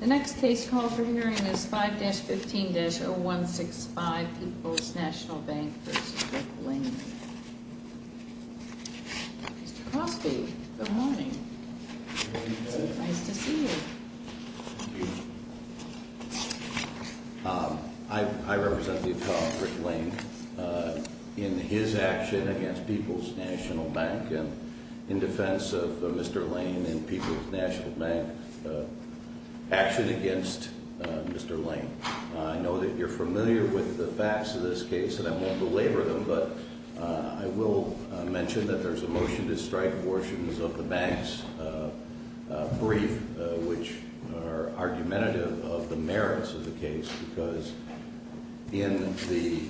The next case call for hearing is 5-15-0165, Peoples National Bank v. Rick Lane. Mr. Crosby, good morning. It's nice to see you. I represent the attorney Rick Lane in his action against Peoples National Bank and in defense of Mr. Lane and Peoples National Bank action against Mr. Lane. I know that you're familiar with the facts of this case, and I won't belabor them, but I will mention that there's a motion to strike abortions of the bank's brief, which are argumentative of the merits of the case, because in the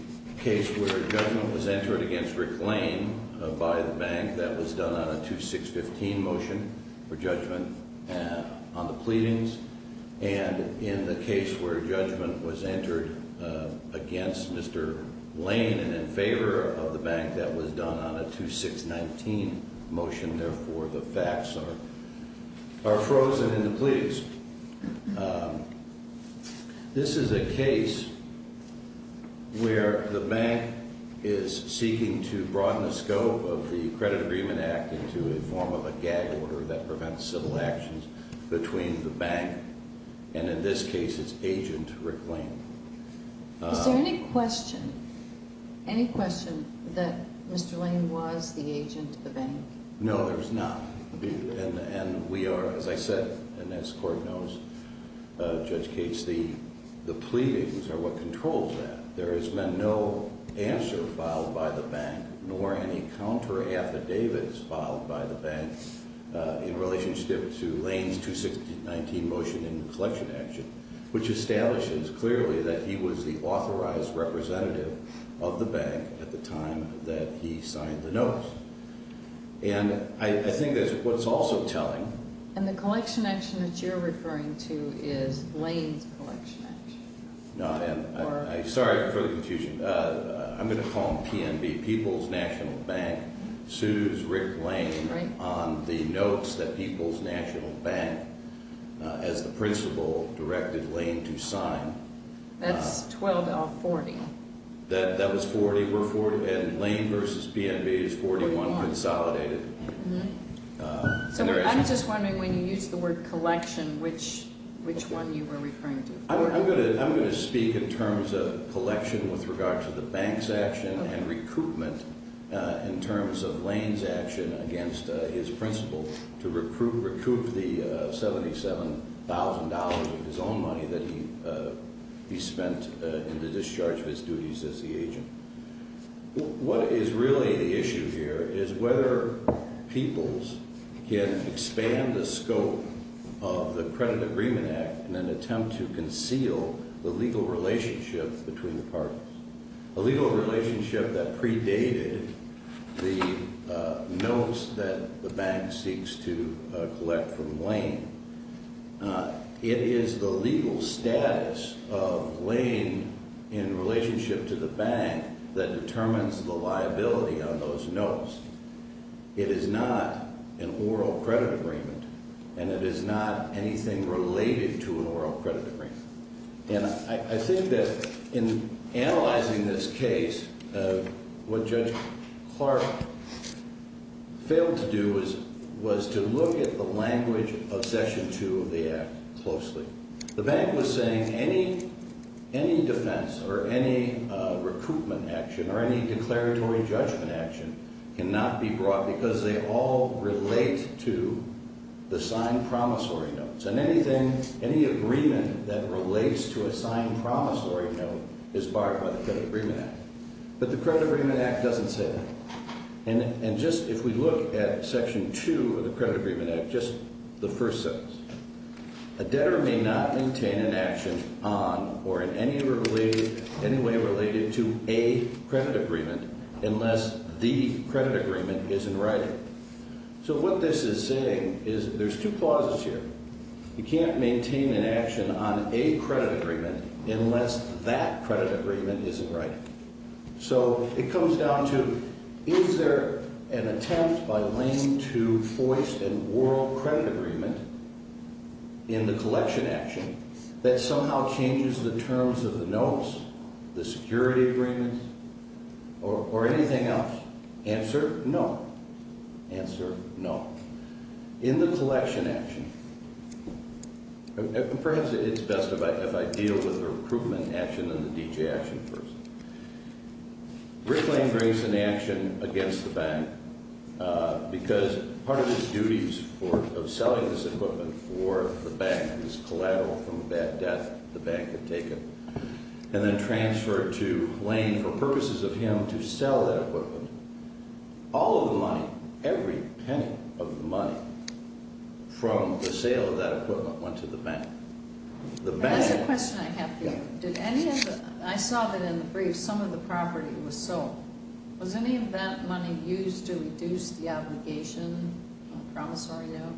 case where judgment was entered against Rick Lane by the bank, that was done on a 2-6-15 motion for judgment on the pleadings, and in the case where judgment was entered against Mr. Lane and in favor of the bank, that was done on a 2-6-19 motion. And therefore, the facts are frozen in the pleas. This is a case where the bank is seeking to broaden the scope of the Credit Agreement Act into a form of a gag order that prevents civil actions between the bank and, in this case, its agent, Rick Lane. Is there any question that Mr. Lane was the agent of the bank? No, there's not. And we are, as I said, and as the Court knows, Judge Cates, the pleadings are what controls that. There has been no answer filed by the bank nor any counter affidavits filed by the bank in relationship to Lane's 2-6-19 motion in collection action, which establishes clearly that he was the authorized representative of the bank at the time that he signed the notice. And I think that's what's also telling. And the collection action that you're referring to is Lane's collection action. No, I'm sorry for the confusion. I'm going to call him PNB, People's National Bank, sues Rick Lane on the notes that People's National Bank, as the principal, directed Lane to sign. That's 12-40. That was 40, and Lane v. PNB is 41 consolidated. So I'm just wondering, when you use the word collection, which one you were referring to. I'm going to speak in terms of collection with regard to the bank's action and recruitment in terms of Lane's action against his principal to recoup the $77,000 of his own money that he spent in the discharge of his duties as the agent. What is really the issue here is whether People's can expand the scope of the Credit Agreement Act in an attempt to conceal the legal relationship between the parties, a legal relationship that predated the notes that the bank seeks to collect from Lane. It is the legal status of Lane in relationship to the bank that determines the liability on those notes. It is not an oral credit agreement, and it is not anything related to an oral credit agreement. And I think that in analyzing this case, what Judge Clark failed to do was to look at the language of Section 2 of the Act closely. The bank was saying any defense or any recoupment action or any declaratory judgment action cannot be brought because they all relate to the signed promissory notes. And anything, any agreement that relates to a signed promissory note is barred by the Credit Agreement Act. But the Credit Agreement Act doesn't say that. And just if we look at Section 2 of the Credit Agreement Act, just the first sentence, a debtor may not maintain an action on or in any way related to a credit agreement unless the credit agreement is in writing. So what this is saying is there's two clauses here. You can't maintain an action on a credit agreement unless that credit agreement is in writing. So it comes down to is there an attempt by Lane to force an oral credit agreement in the collection action that somehow changes the terms of the notes, the security agreements, or anything else? Answer, no. Answer, no. In the collection action, perhaps it's best if I deal with the recoupment action and the D.J. action first. Rick Lane brings an action against the bank because part of his duties of selling this equipment for the bank, his collateral from a bad death the bank had taken, and then transferred to Lane for purposes of him to sell that equipment. All of the money, every penny of the money from the sale of that equipment went to the bank. The bank— That's a question I have for you. Did any of the—I saw that in the brief some of the property was sold. Was any of that money used to reduce the obligation on a promissory note?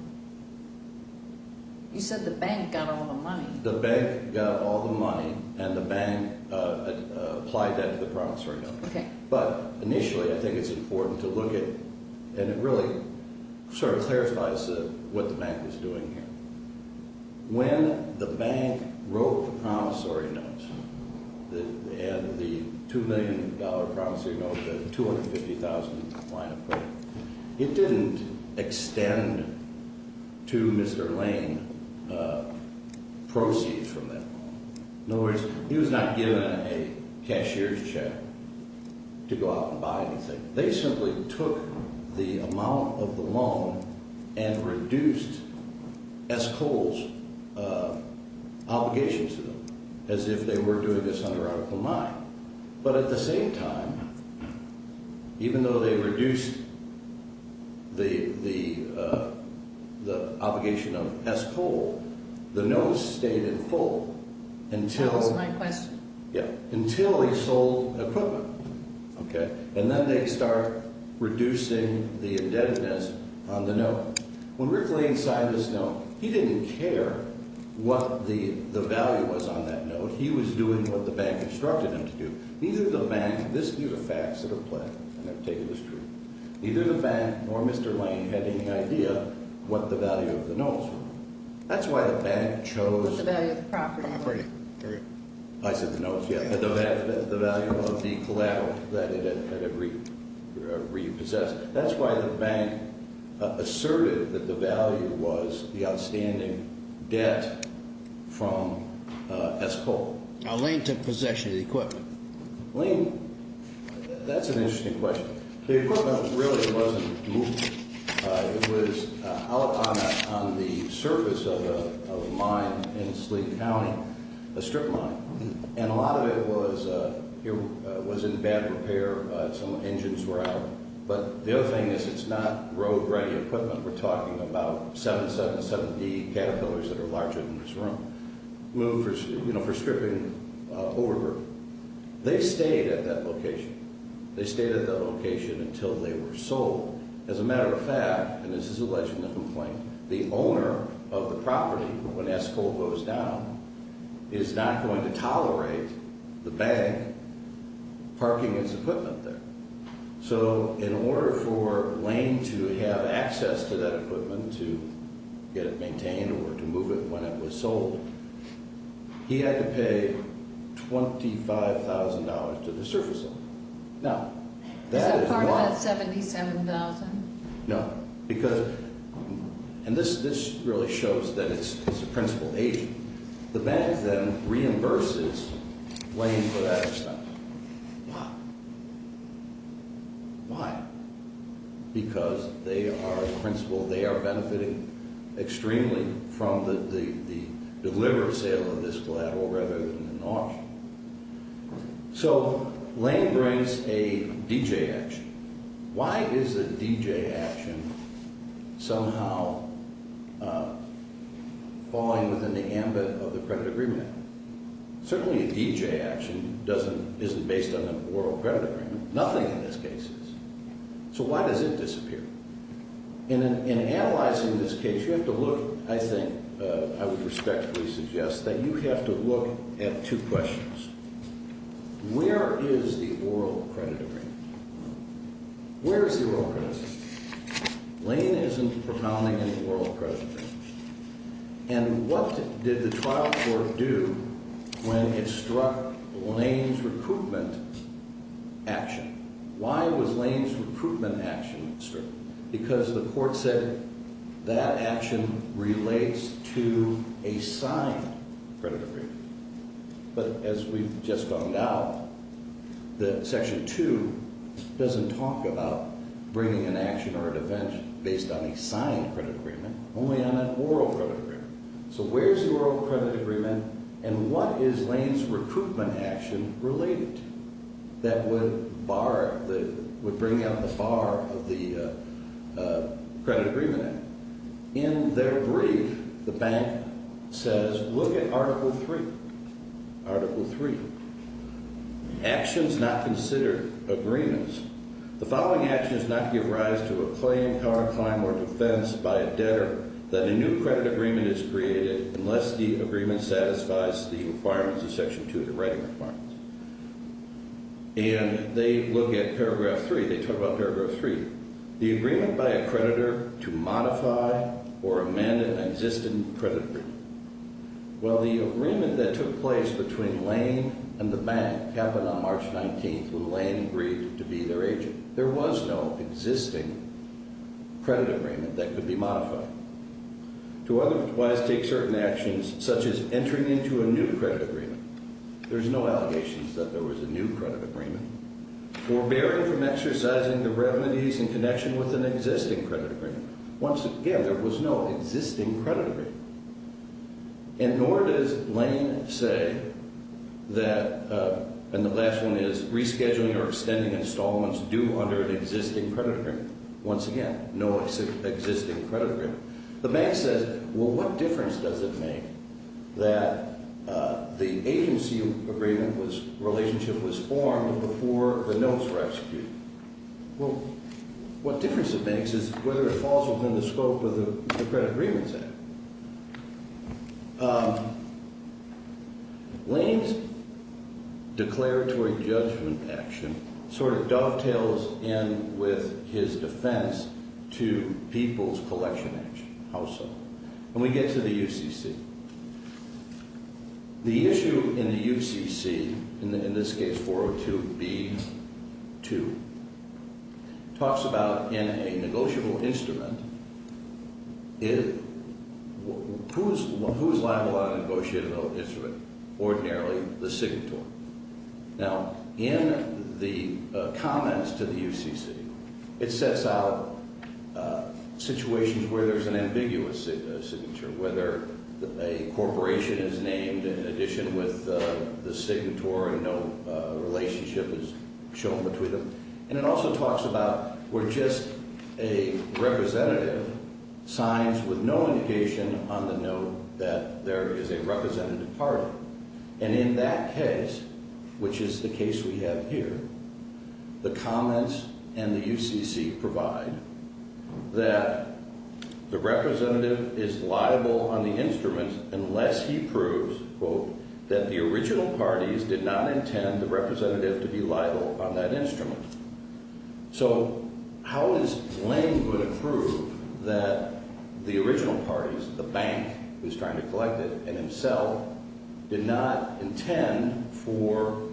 You said the bank got all the money. The bank got all the money, and the bank applied that to the promissory note. Okay. But initially I think it's important to look at—and it really sort of clarifies what the bank was doing here. When the bank wrote the promissory notes and the $2 million promissory note, the $250,000 line of credit, it didn't extend to Mr. Lane proceeds from that. In other words, he was not given a cashier's check to go out and buy anything. They simply took the amount of the loan and reduced S. Cole's obligations to them as if they were doing this under article 9. But at the same time, even though they reduced the obligation of S. Cole, the note stayed in full until— That was my question. Yeah. Until he sold equipment. Okay. And then they start reducing the indebtedness on the note. When Rick Lane signed this note, he didn't care what the value was on that note. He was doing what the bank instructed him to do. Neither the bank—this is the facts that are plain. I'm going to take it as true. Neither the bank nor Mr. Lane had any idea what the value of the notes were. That's why the bank chose— The value of the property. Property. I said the notes, yeah. The value of the collateral that it had repossessed. That's why the bank asserted that the value was the outstanding debt from S. Cole. Now, Lane took possession of the equipment. Lane—that's an interesting question. The equipment really wasn't moved. It was out on the surface of a mine in Sleet County, a strip mine. And a lot of it was in bad repair. Some engines were out. But the other thing is it's not road-ready equipment. We're talking about 777D Caterpillars that are larger than this room. Moved for stripping over group. They stayed at that location. They stayed at that location until they were sold. The owner of the property, when S. Cole goes down, is not going to tolerate the bank parking his equipment there. So in order for Lane to have access to that equipment, to get it maintained or to move it when it was sold, he had to pay $25,000 to the surface owner. Now, that is not— Is that part of that $77,000? No. Because—and this really shows that it's a principal agent. The bank then reimburses Lane for that expense. Why? Why? Because they are a principal. They are benefiting extremely from the deliver sale of this collateral rather than an auction. So Lane brings a DJ action. Why is a DJ action somehow falling within the ambit of the credit agreement? Certainly a DJ action isn't based on an oral credit agreement. Nothing in this case is. So why does it disappear? In analyzing this case, you have to look—I think I would respectfully suggest that you have to look at two questions. Where is the oral credit agreement? Where is the oral credit agreement? Lane isn't propounding any oral credit agreement. And what did the trial court do when it struck Lane's recruitment action? Why was Lane's recruitment action struck? Because the court said that action relates to a signed credit agreement. But as we've just found out, that Section 2 doesn't talk about bringing an action or a defense based on a signed credit agreement, only on an oral credit agreement. So where is the oral credit agreement and what is Lane's recruitment action related to that would bring out the FAR of the Credit Agreement Act? In their brief, the bank says, look at Article 3. Article 3. Actions not considered agreements. The following actions not give rise to a claim, counterclaim, or defense by a debtor that a new credit agreement is created unless the agreement satisfies the requirements of Section 2, the writing requirements. And they look at Paragraph 3. They talk about Paragraph 3. The agreement by a creditor to modify or amend an existing credit agreement. Well, the agreement that took place between Lane and the bank happened on March 19th when Lane agreed to be their agent. There was no existing credit agreement that could be modified. To otherwise take certain actions, such as entering into a new credit agreement. There's no allegations that there was a new credit agreement. Forbearing from exercising the revenues in connection with an existing credit agreement. Once again, there was no existing credit agreement. And nor does Lane say that, and the last one is, rescheduling or extending installments due under an existing credit agreement. Once again, no existing credit agreement. The bank says, well, what difference does it make that the agency agreement was, relationship was formed before the notes were executed? Well, what difference it makes is whether it falls within the scope of the credit agreements act. Lane's declaratory judgment action sort of dovetails in with his defense to people's collection action. How so? When we get to the UCC. The issue in the UCC, in this case 402B2, talks about in a negotiable instrument, who's liable on a negotiable instrument? Ordinarily, the signatory. Now, in the comments to the UCC, it sets out situations where there's an ambiguous signature. Whether a corporation is named in addition with the signatory and no relationship is shown between them. And it also talks about where just a representative signs with no indication on the note that there is a representative party. And in that case, which is the case we have here, the comments and the UCC provide that the representative is liable on the instrument unless he proves, quote, that the original parties did not intend the representative to be liable on that instrument. So how is Lane going to prove that the original parties, the bank who's trying to collect it and himself, did not intend for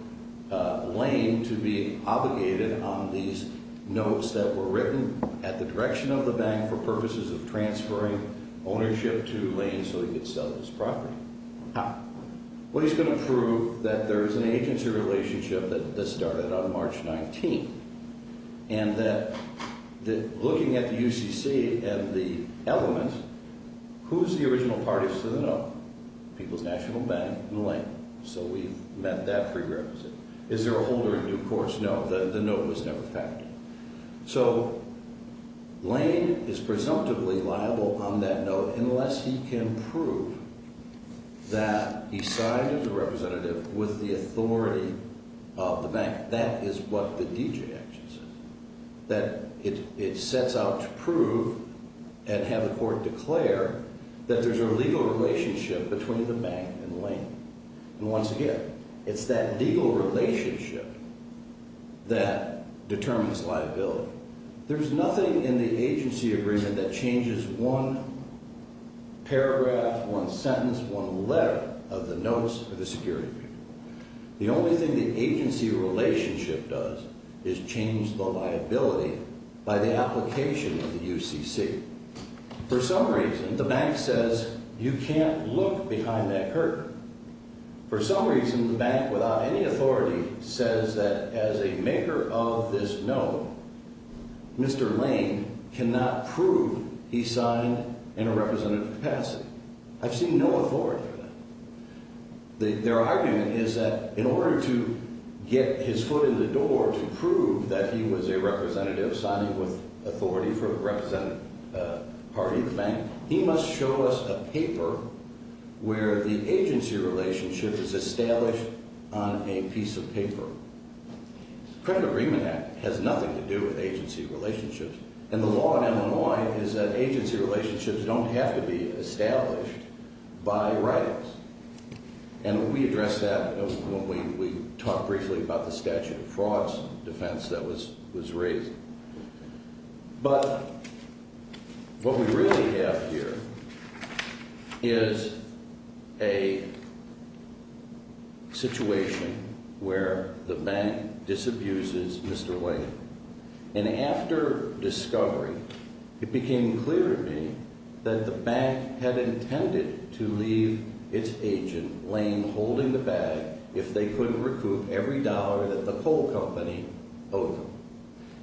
Lane to be obligated on these notes that were written at the direction of the bank for purposes of transferring ownership to Lane so he could sell this property? How? Lane's going to prove that there is an agency relationship that started on March 19th and that looking at the UCC and the elements, who's the original parties to the note? People's National Bank and Lane. So we've met that prerequisite. Is there a holder in due course? No, the note was never factored. So Lane is presumptively liable on that note unless he can prove that he signed as a representative with the authority of the bank. That is what the D.J. action says. That it sets out to prove and have the court declare that there's a legal relationship between the bank and Lane. And once again, it's that legal relationship that determines liability. There's nothing in the agency agreement that changes one paragraph, one sentence, one letter of the notes for the security agreement. The only thing the agency relationship does is change the liability by the application of the UCC. For some reason, the bank says you can't look behind that curtain. For some reason, the bank, without any authority, says that as a maker of this note, Mr. Lane cannot prove he signed in a representative capacity. I've seen no authority for that. Their argument is that in order to get his foot in the door to prove that he was a representative signing with authority for the representative party of the bank, he must show us a paper where the agency relationship is established on a piece of paper. The Credit Agreement Act has nothing to do with agency relationships. And the law in Illinois is that agency relationships don't have to be established by rights. And we addressed that when we talked briefly about the statute of frauds defense that was raised. But what we really have here is a situation where the bank disabuses Mr. Lane. And after discovery, it became clear to me that the bank had intended to leave its agent, Lane, holding the bag if they couldn't recoup every dollar that the coal company owed them.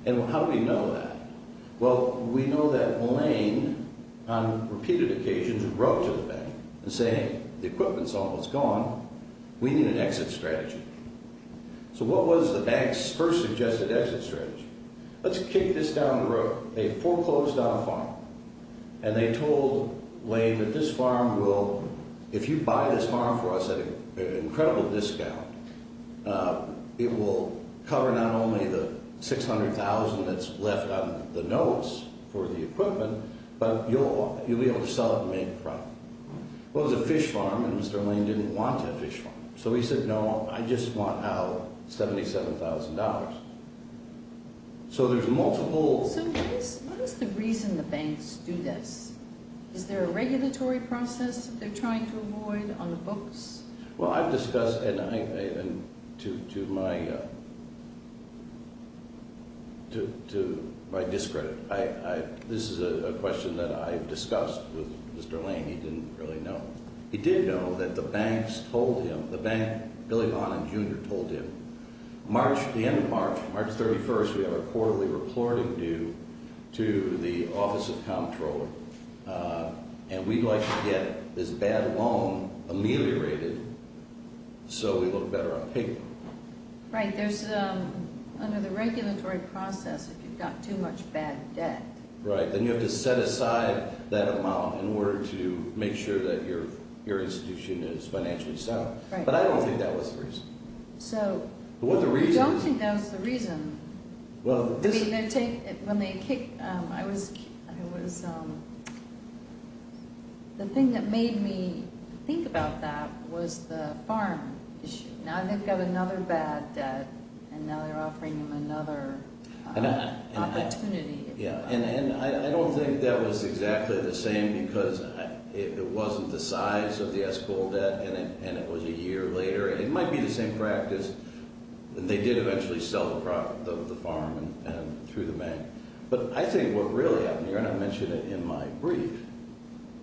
And how do we know that? Well, we know that Lane, on repeated occasions, wrote to the bank and said, hey, the equipment's almost gone. We need an exit strategy. So what was the bank's first suggested exit strategy? Let's kick this down the road. They foreclosed on a farm. And they told Lane that this farm will, if you buy this farm for us at an incredible discount, it will cover not only the $600,000 that's left on the notice for the equipment, but you'll be able to sell it and make a profit. Well, it was a fish farm, and Mr. Lane didn't want that fish farm. So he said, no, I just want our $77,000. So there's multiple. So what is the reason the banks do this? Is there a regulatory process that they're trying to avoid on the books? Well, I've discussed, and to my discredit, this is a question that I've discussed with Mr. Lane. He didn't really know. He did know that the banks told him, the bank, Billy Bonham Jr. told him, March, the end of March, March 31st, we have a quarterly reporting due to the Office of Comptroller. And we'd like to get this bad loan ameliorated so we look better on paper. Right. There's, under the regulatory process, if you've got too much bad debt. Right. Then you have to set aside that amount in order to make sure that your institution is financially sound. Right. But I don't think that was the reason. I don't think that was the reason. The thing that made me think about that was the farm issue. Now they've got another bad debt, and now they're offering them another opportunity. Yeah, and I don't think that was exactly the same because it wasn't the size of the escrow debt, and it was a year later. It might be the same practice. They did eventually sell the farm through the bank. But I think what really happened here, and I mentioned it in my brief,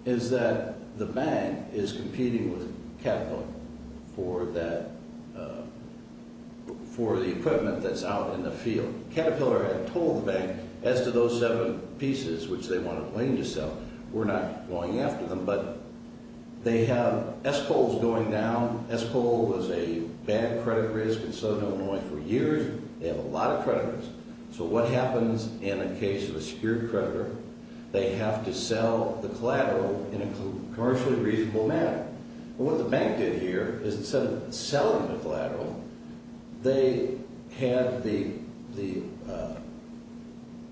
is that the bank is competing with Caterpillar for the equipment that's out in the field. Caterpillar had told the bank, as to those seven pieces which they want to claim to sell. We're not going after them, but they have S-Coals going down. S-Coal was a bad credit risk in southern Illinois for years. They have a lot of credit risk. So what happens in a case of a secured creditor, they have to sell the collateral in a commercially reasonable manner. What the bank did here is instead of selling the collateral, they had the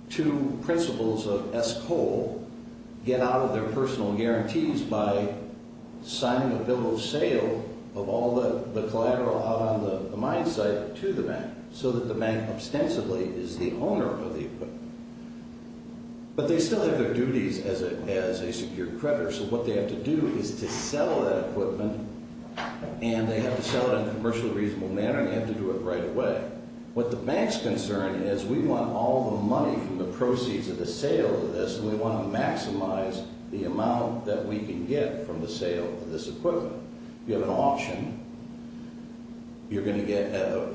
two principals of S-Coal get out of their personal guarantees by signing a bill of sale of all the collateral out on the mine site to the bank. So that the bank, ostensibly, is the owner of the equipment. But they still have their duties as a secured creditor. So what they have to do is to sell that equipment, and they have to sell it in a commercially reasonable manner, and they have to do it right away. What the bank's concern is, we want all the money from the proceeds of the sale of this, and we want to maximize the amount that we can get from the sale of this equipment. If you have an auction, you're going to get a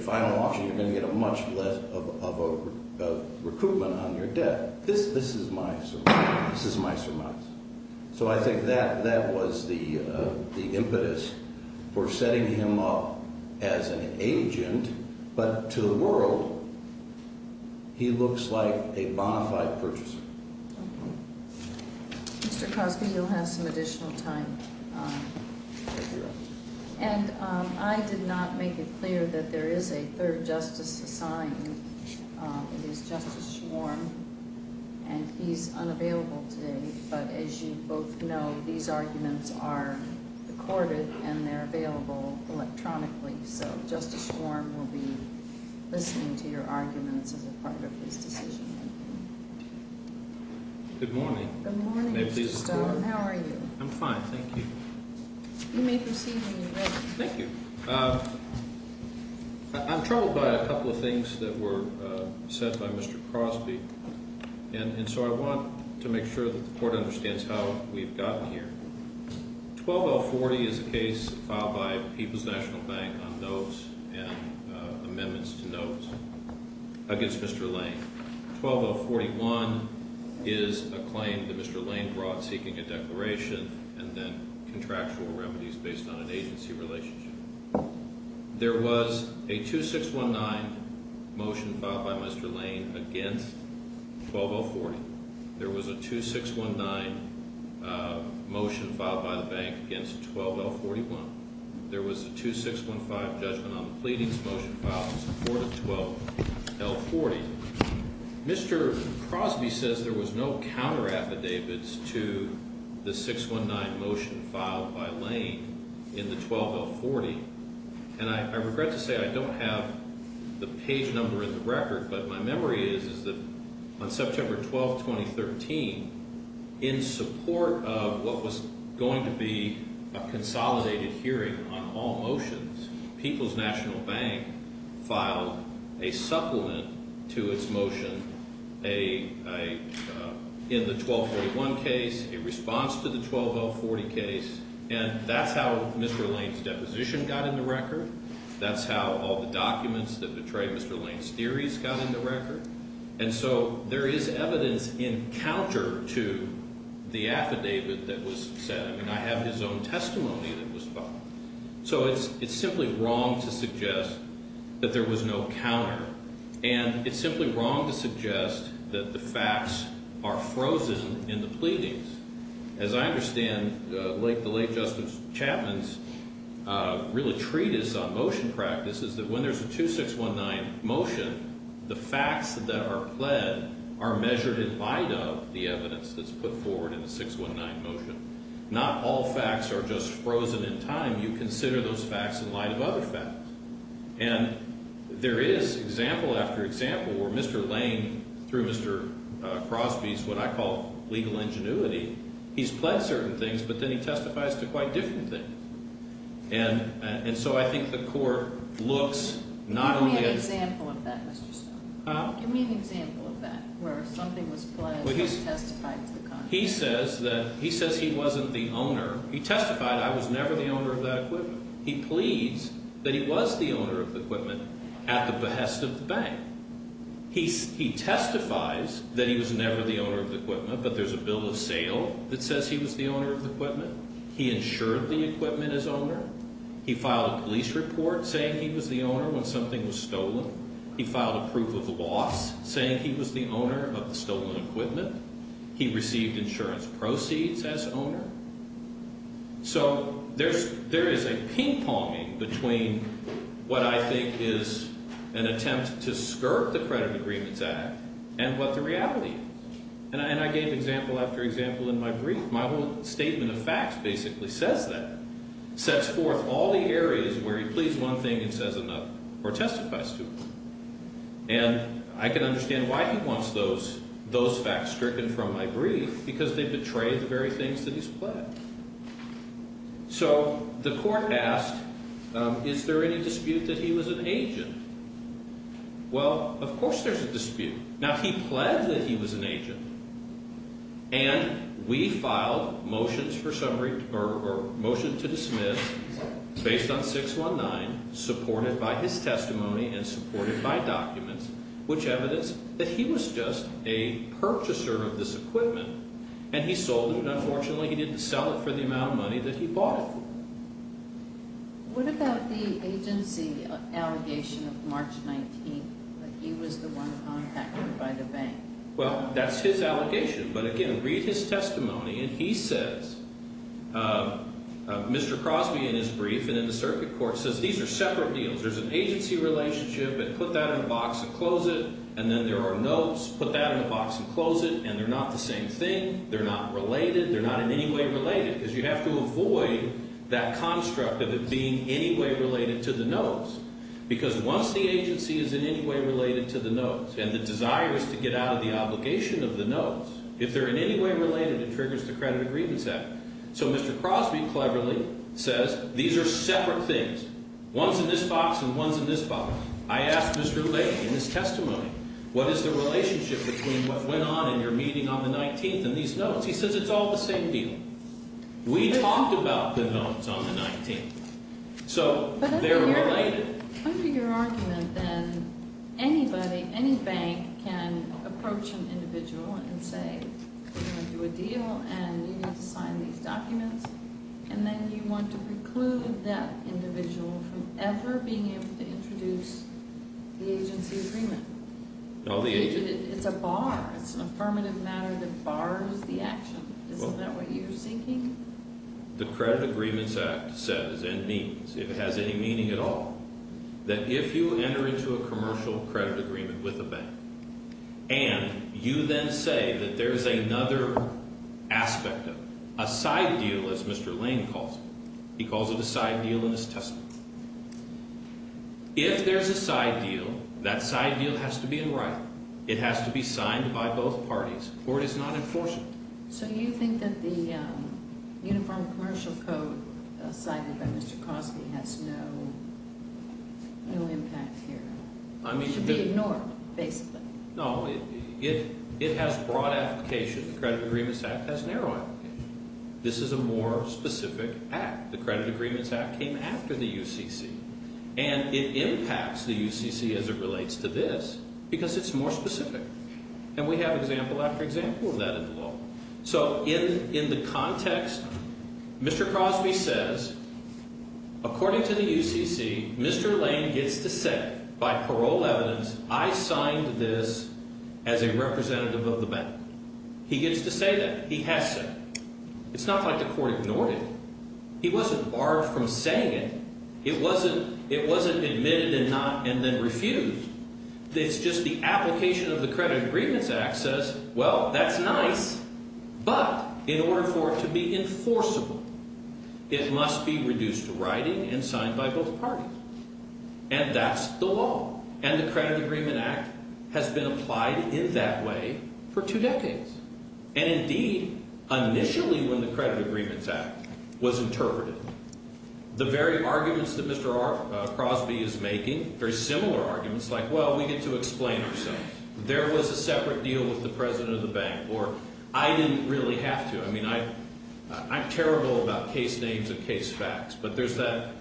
final auction, you're going to get much less of a recoupment on your debt. This is my surmise. So I think that was the impetus for setting him up as an agent, but to the world, he looks like a bonafide purchaser. Okay. Mr. Cosby, you'll have some additional time. Thank you. And I did not make it clear that there is a third justice assigned. It is Justice Schwarm, and he's unavailable today. But as you both know, these arguments are recorded, and they're available electronically. So Justice Schwarm will be listening to your arguments as a part of this decision. Good morning. Good morning, Mr. Stone. May I please report? How are you? I'm fine, thank you. You may proceed when you're ready. Thank you. I'm troubled by a couple of things that were said by Mr. Cosby, and so I want to make sure that the Court understands how we've gotten here. 12040 is a case filed by the People's National Bank on notes and amendments to notes against Mr. Lane. 12041 is a claim that Mr. Lane brought seeking a declaration and then contractual remedies based on an agency relationship. There was a 2619 motion filed by Mr. Lane against 12040. There was a 2619 motion filed by the bank against 12L41. There was a 2615 judgment on the pleadings motion filed in support of 12L40. Mr. Cosby says there was no counter-affidavits to the 619 motion filed by Lane in the 12L40. And I regret to say I don't have the page number in the record, but my memory is that on September 12, 2013, in support of what was going to be a consolidated hearing on all motions, People's National Bank filed a supplement to its motion in the 12L41 case, a response to the 12L40 case, and that's how Mr. Lane's deposition got in the record. That's how all the documents that betrayed Mr. Lane's theories got in the record. And so there is evidence in counter to the affidavit that was said. I mean, I have his own testimony that was filed. So it's simply wrong to suggest that there was no counter, and it's simply wrong to suggest that the facts are frozen in the pleadings. As I understand, the late Justice Chapman's real treatise on motion practice is that when there's a 2619 motion, the facts that are pled are measured in light of the evidence that's put forward in the 619 motion. Not all facts are just frozen in time. You consider those facts in light of other facts. And there is example after example where Mr. Lane, through Mr. Crosby's what I call legal ingenuity, he's pled certain things, but then he testifies to quite different things. And so I think the court looks not only at the- Give me an example of that, Mr. Stone. Huh? Give me an example of that, where something was pled and he testified to the contrary. He says that he wasn't the owner. He testified, I was never the owner of that equipment. He pleads that he was the owner of the equipment at the behest of the bank. He testifies that he was never the owner of the equipment, but there's a bill of sale that says he was the owner of the equipment. He insured the equipment as owner. He filed a police report saying he was the owner when something was stolen. He filed a proof of loss saying he was the owner of the stolen equipment. He received insurance proceeds as owner. So there is a ping-ponging between what I think is an attempt to skirt the Credit Agreements Act and what the reality is. And I gave example after example in my brief. My whole statement of facts basically says that. It sets forth all the areas where he pleads one thing and says another or testifies to it. And I can understand why he wants those facts stricken from my brief because they betray the very things that he's pled. So the court asked, is there any dispute that he was an agent? Well, of course there's a dispute. Now, he pled that he was an agent. And we filed motions to dismiss based on 619, supported by his testimony and supported by documents, which evidence that he was just a purchaser of this equipment. And he sold it. Unfortunately, he didn't sell it for the amount of money that he bought it for. What about the agency allegation of March 19th that he was the one contacted by the bank? Well, that's his allegation. But again, read his testimony. And he says, Mr. Crosby, in his brief and in the circuit court, says these are separate deals. There's an agency relationship. Put that in a box and close it. And then there are notes. Put that in a box and close it. And they're not the same thing. They're not related. They're not in any way related. Because you have to avoid that construct of it being in any way related to the notes. Because once the agency is in any way related to the notes and the desire is to get out of the obligation of the notes, if they're in any way related, it triggers the Credit Agreements Act. So Mr. Crosby cleverly says these are separate things. One's in this box and one's in this box. I asked Mr. Lake in his testimony, what is the relationship between what went on in your meeting on the 19th and these notes? He says it's all the same deal. We talked about the notes on the 19th. So they're related. Under your argument, then, anybody, any bank can approach an individual and say, we're going to do a deal and you need to sign these documents. And then you want to preclude that individual from ever being able to introduce the agency agreement. It's a bar. It's an affirmative matter that bars the action. Isn't that what you're seeking? The Credit Agreements Act says and means, if it has any meaning at all, that if you enter into a commercial credit agreement with a bank and you then say that there's another aspect of it, a side deal, as Mr. Lane calls it. He calls it a side deal in his testimony. If there's a side deal, that side deal has to be in writing. It has to be signed by both parties or it is not enforceable. So you think that the Uniform Commercial Code cited by Mr. Cosby has no impact here? It should be ignored, basically. No, it has broad application. The Credit Agreements Act has narrow application. This is a more specific act. The Credit Agreements Act came after the UCC. And it impacts the UCC as it relates to this because it's more specific. And we have example after example of that in the law. So in the context, Mr. Cosby says, according to the UCC, Mr. Lane gets to say, by parole evidence, I signed this as a representative of the bank. He gets to say that. He has said it. It's not like the court ignored it. He wasn't barred from saying it. It wasn't admitted and not and then refused. It's just the application of the Credit Agreements Act says, well, that's nice. But in order for it to be enforceable, it must be reduced to writing and signed by both parties. And that's the law. And the Credit Agreement Act has been applied in that way for two decades. And, indeed, initially when the Credit Agreements Act was interpreted, the very arguments that Mr. Crosby is making, very similar arguments, like, well, we get to explain ourselves. There was a separate deal with the president of the bank. Or I didn't really have to. I mean, I'm terrible about case names and case facts. But there's that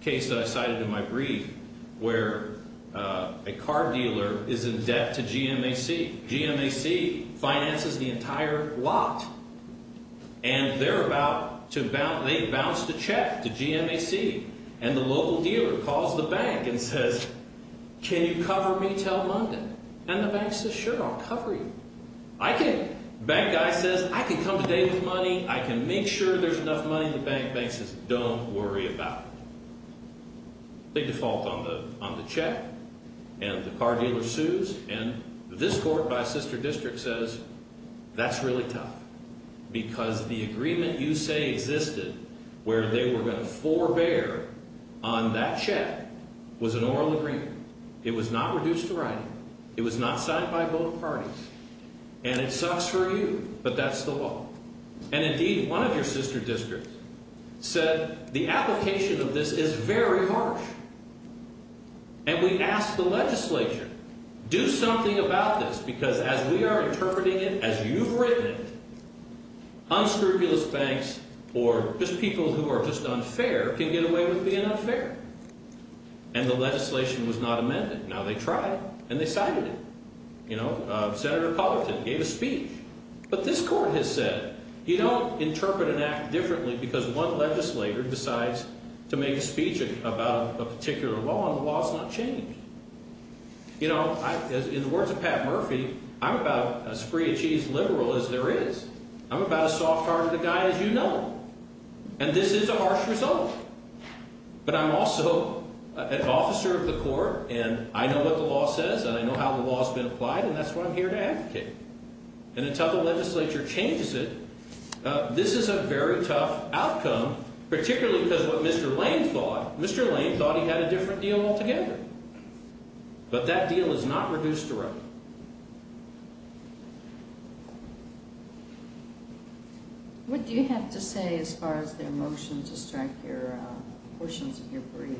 case that I cited in my brief where a car dealer is in debt to GMAC. GMAC finances the entire lot. And they're about to bounce the check to GMAC. And the local dealer calls the bank and says, can you cover me till Monday? And the bank says, sure, I'll cover you. I can. Bank guy says, I can come today with money. I can make sure there's enough money in the bank. Bank says, don't worry about it. They default on the check. And the car dealer sues. And this court by sister district says, that's really tough. Because the agreement you say existed where they were going to forbear on that check was an oral agreement. It was not reduced to writing. It was not signed by both parties. And it sucks for you, but that's the law. And, indeed, one of your sister districts said the application of this is very harsh. And we asked the legislature, do something about this. Because as we are interpreting it, as you've written it, unscrupulous banks or just people who are just unfair can get away with being unfair. And the legislation was not amended. Now they tried. And they signed it. You know, Senator Collerton gave a speech. But this court has said, you don't interpret an act differently because one legislator decides to make a speech about a particular law, and the law has not changed. You know, in the words of Pat Murphy, I'm about as free-of-cheese liberal as there is. I'm about as soft-hearted a guy as you know. And this is a harsh result. But I'm also an officer of the court, and I know what the law says, and I know how the law has been applied, and that's what I'm here to advocate. And until the legislature changes it, this is a very tough outcome, particularly because of what Mr. Lane thought. Mr. Lane thought he had a different deal altogether. But that deal is not reduced to run. What do you have to say as far as their motion to strike your portions of your brief?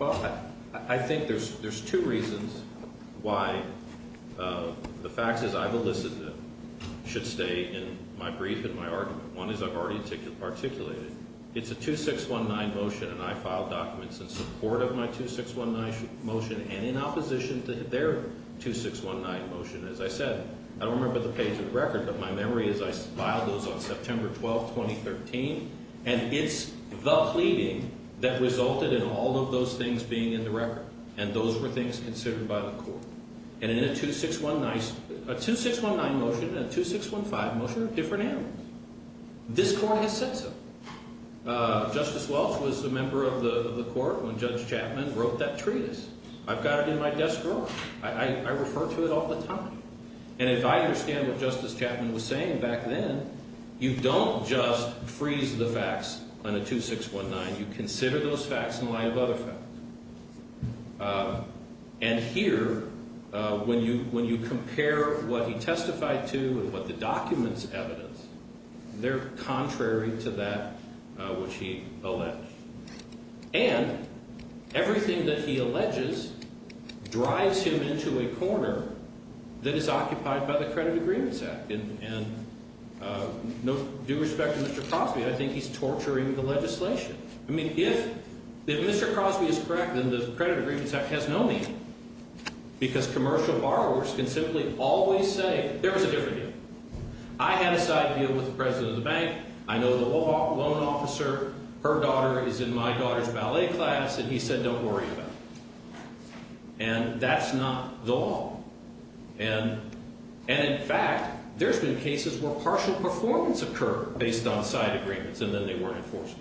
Well, I think there's two reasons why the facts as I've elicited should stay in my brief and my argument. One is I've already articulated it. It's a 2619 motion, and I filed documents in support of my 2619 motion and in opposition to their 2619 motion. As I said, I don't remember the page of the record, but my memory is I filed those on September 12, 2013. And it's the pleading that resulted in all of those things being in the record, and those were things considered by the court. And in a 2619 motion and a 2615 motion are different animals. This court has said so. Justice Welch was a member of the court when Judge Chapman wrote that treatise. I've got it in my desk drawer. I refer to it all the time. And if I understand what Justice Chapman was saying back then, you don't just freeze the facts on a 2619. You consider those facts in light of other facts. And here, when you compare what he testified to and what the documents evidence, they're contrary to that which he alleged. And everything that he alleges drives him into a corner that is occupied by the Credit Agreements Act. And due respect to Mr. Crosby, I think he's torturing the legislation. I mean, if Mr. Crosby is correct, then the Credit Agreements Act has no meaning because commercial borrowers can simply always say there was a different deal. I had a side deal with the president of the bank. I know the loan officer. Her daughter is in my daughter's ballet class, and he said don't worry about it. And that's not the law. And in fact, there's been cases where partial performance occurred based on side agreements, and then they weren't enforced.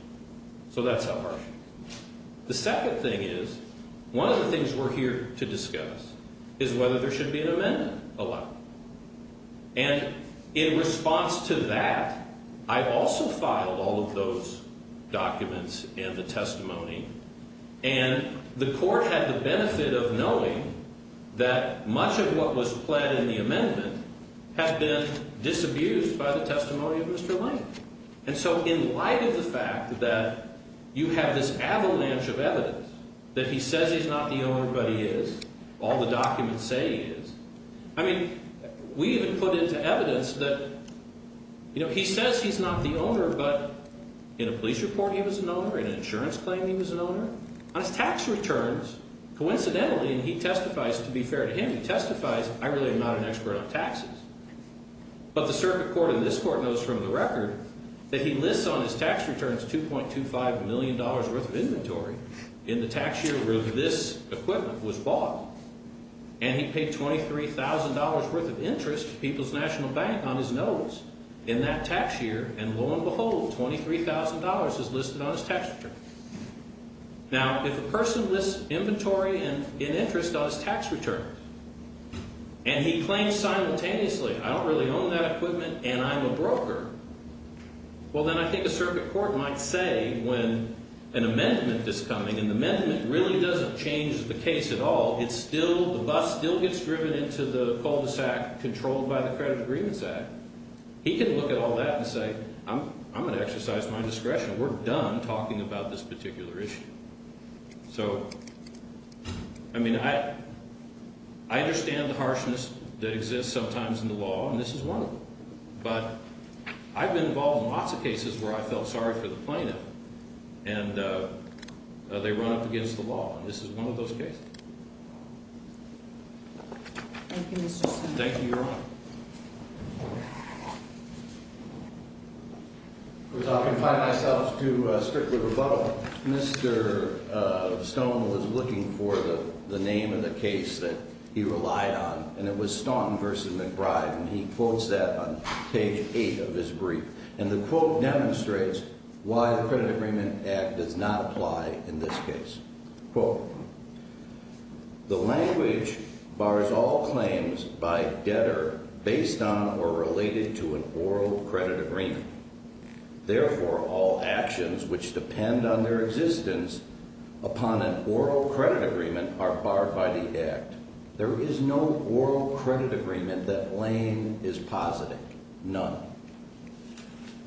So that's how harsh it is. The second thing is, one of the things we're here to discuss is whether there should be an amendment allowed. And in response to that, I also filed all of those documents in the testimony. And the court had the benefit of knowing that much of what was pled in the amendment had been disabused by the testimony of Mr. Lane. And so in light of the fact that you have this avalanche of evidence that he says he's not the owner, but he is, all the documents say he is, I mean, we even put into evidence that he says he's not the owner, but in a police report he was an owner, in an insurance claim he was an owner. On his tax returns, coincidentally, and he testifies, to be fair to him, he testifies, I really am not an expert on taxes. But the circuit court and this court knows from the record that he lists on his tax returns $2.25 million worth of inventory in the tax year where this equipment was bought. And he paid $23,000 worth of interest to People's National Bank on his notes in that tax year, and lo and behold, $23,000 is listed on his tax return. Now, if a person lists inventory in interest on his tax return, and he claims simultaneously, I don't really own that equipment and I'm a broker, well, then I think a circuit court might say when an amendment is coming, and the amendment really doesn't change the case at all, it's still, the bus still gets driven into the cul-de-sac controlled by the Credit Agreements Act. He can look at all that and say, I'm going to exercise my discretion. We're done talking about this particular issue. So, I mean, I understand the harshness that exists sometimes in the law, and this is one of them. But I've been involved in lots of cases where I felt sorry for the plaintiff, and they run up against the law. And this is one of those cases. Thank you, Mr. Smith. Thank you, Your Honor. I'll confide myself to strictly rebuttal. Mr. Stone was looking for the name of the case that he relied on, and it was Staunton v. McBride, and he quotes that on page 8 of his brief. And the quote demonstrates why the Credit Agreement Act does not apply in this case. Quote, the language bars all claims by debtor based on or related to an oral credit agreement. Therefore, all actions which depend on their existence upon an oral credit agreement are barred by the Act. There is no oral credit agreement that Lane is positing, none.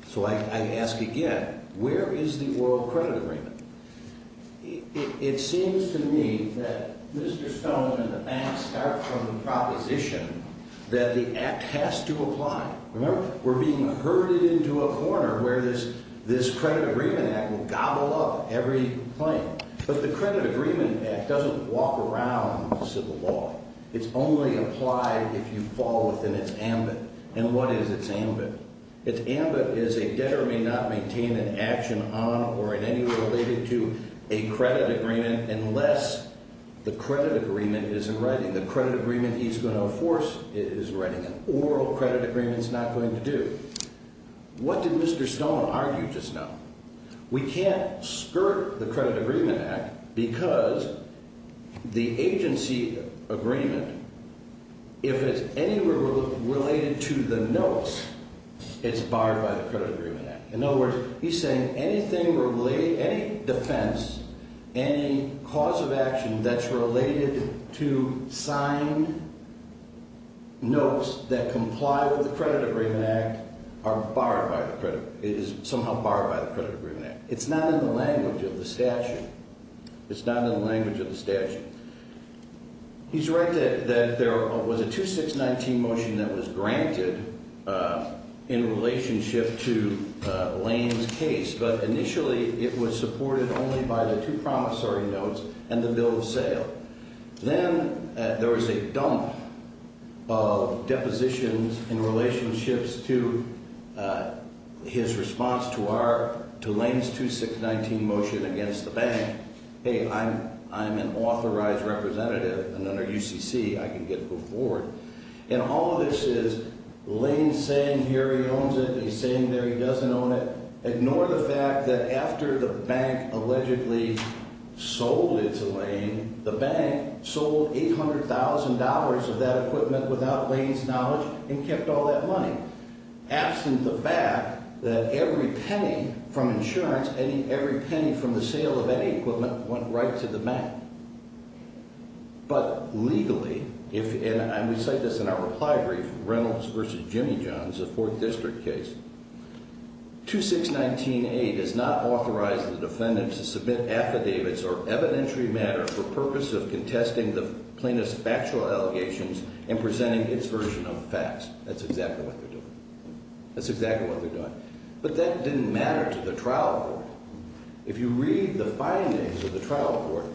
So I ask again, where is the oral credit agreement? It seems to me that Mr. Stone and the bank start from the proposition that the Act has to apply. Remember, we're being herded into a corner where this Credit Agreement Act will gobble up every claim. But the Credit Agreement Act doesn't walk around civil law. It's only applied if you fall within its ambit. And what is its ambit? Its ambit is a debtor may not maintain an action on or in any way related to a credit agreement unless the credit agreement is in writing. The credit agreement he's going to enforce is writing an oral credit agreement is not going to do. What did Mr. Stone argue just now? We can't skirt the Credit Agreement Act because the agency agreement, if it's any related to the notes, it's barred by the Credit Agreement Act. In other words, he's saying anything related, any defense, any cause of action that's related to signed notes that comply with the Credit Agreement Act are barred by the credit. It is somehow barred by the Credit Agreement Act. It's not in the language of the statute. It's not in the language of the statute. He's right that there was a 2619 motion that was granted in relationship to Lane's case, but initially it was supported only by the two promissory notes and the bill of sale. Then there was a dump of depositions in relationships to his response to our, to Lane's 2619 motion against the bank. Hey, I'm an authorized representative and under UCC I can get a move forward. And all of this is Lane saying here he owns it and he's saying there he doesn't own it. Ignore the fact that after the bank allegedly sold it to Lane, the bank sold $800,000 of that equipment without Lane's knowledge and kept all that money, absent the fact that every penny from insurance, every penny from the sale of any equipment went right to the bank. But legally, and we cite this in our reply brief, Reynolds v. Jimmy Johns, a Fourth District case, 2619A does not authorize the defendant to submit affidavits or evidentiary matter for purpose of contesting the plaintiff's factual allegations and presenting its version of facts. That's exactly what they're doing. That's exactly what they're doing. But that didn't matter to the trial court. If you read the findings of the trial court,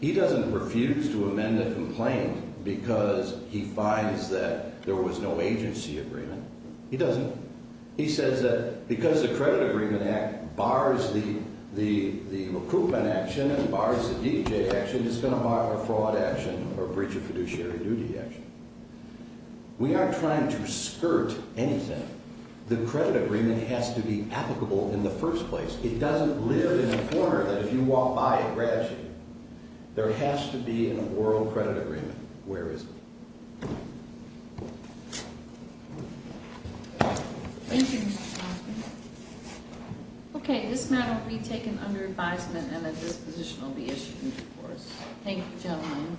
he doesn't refuse to amend the complaint because he finds that there was no agency agreement. He doesn't. He says that because the credit agreement act bars the recruitment action and bars the DJ action, it's going to bar a fraud action or breach of fiduciary duty action. We aren't trying to skirt anything. The credit agreement has to be applicable in the first place. It doesn't live in a corner that if you walk by, it grabs you. There has to be an oral credit agreement. Where is it? Thank you, Mr. Johnson. Okay, this matter will be taken under advisement and a disposition will be issued before us. Thank you, gentlemen.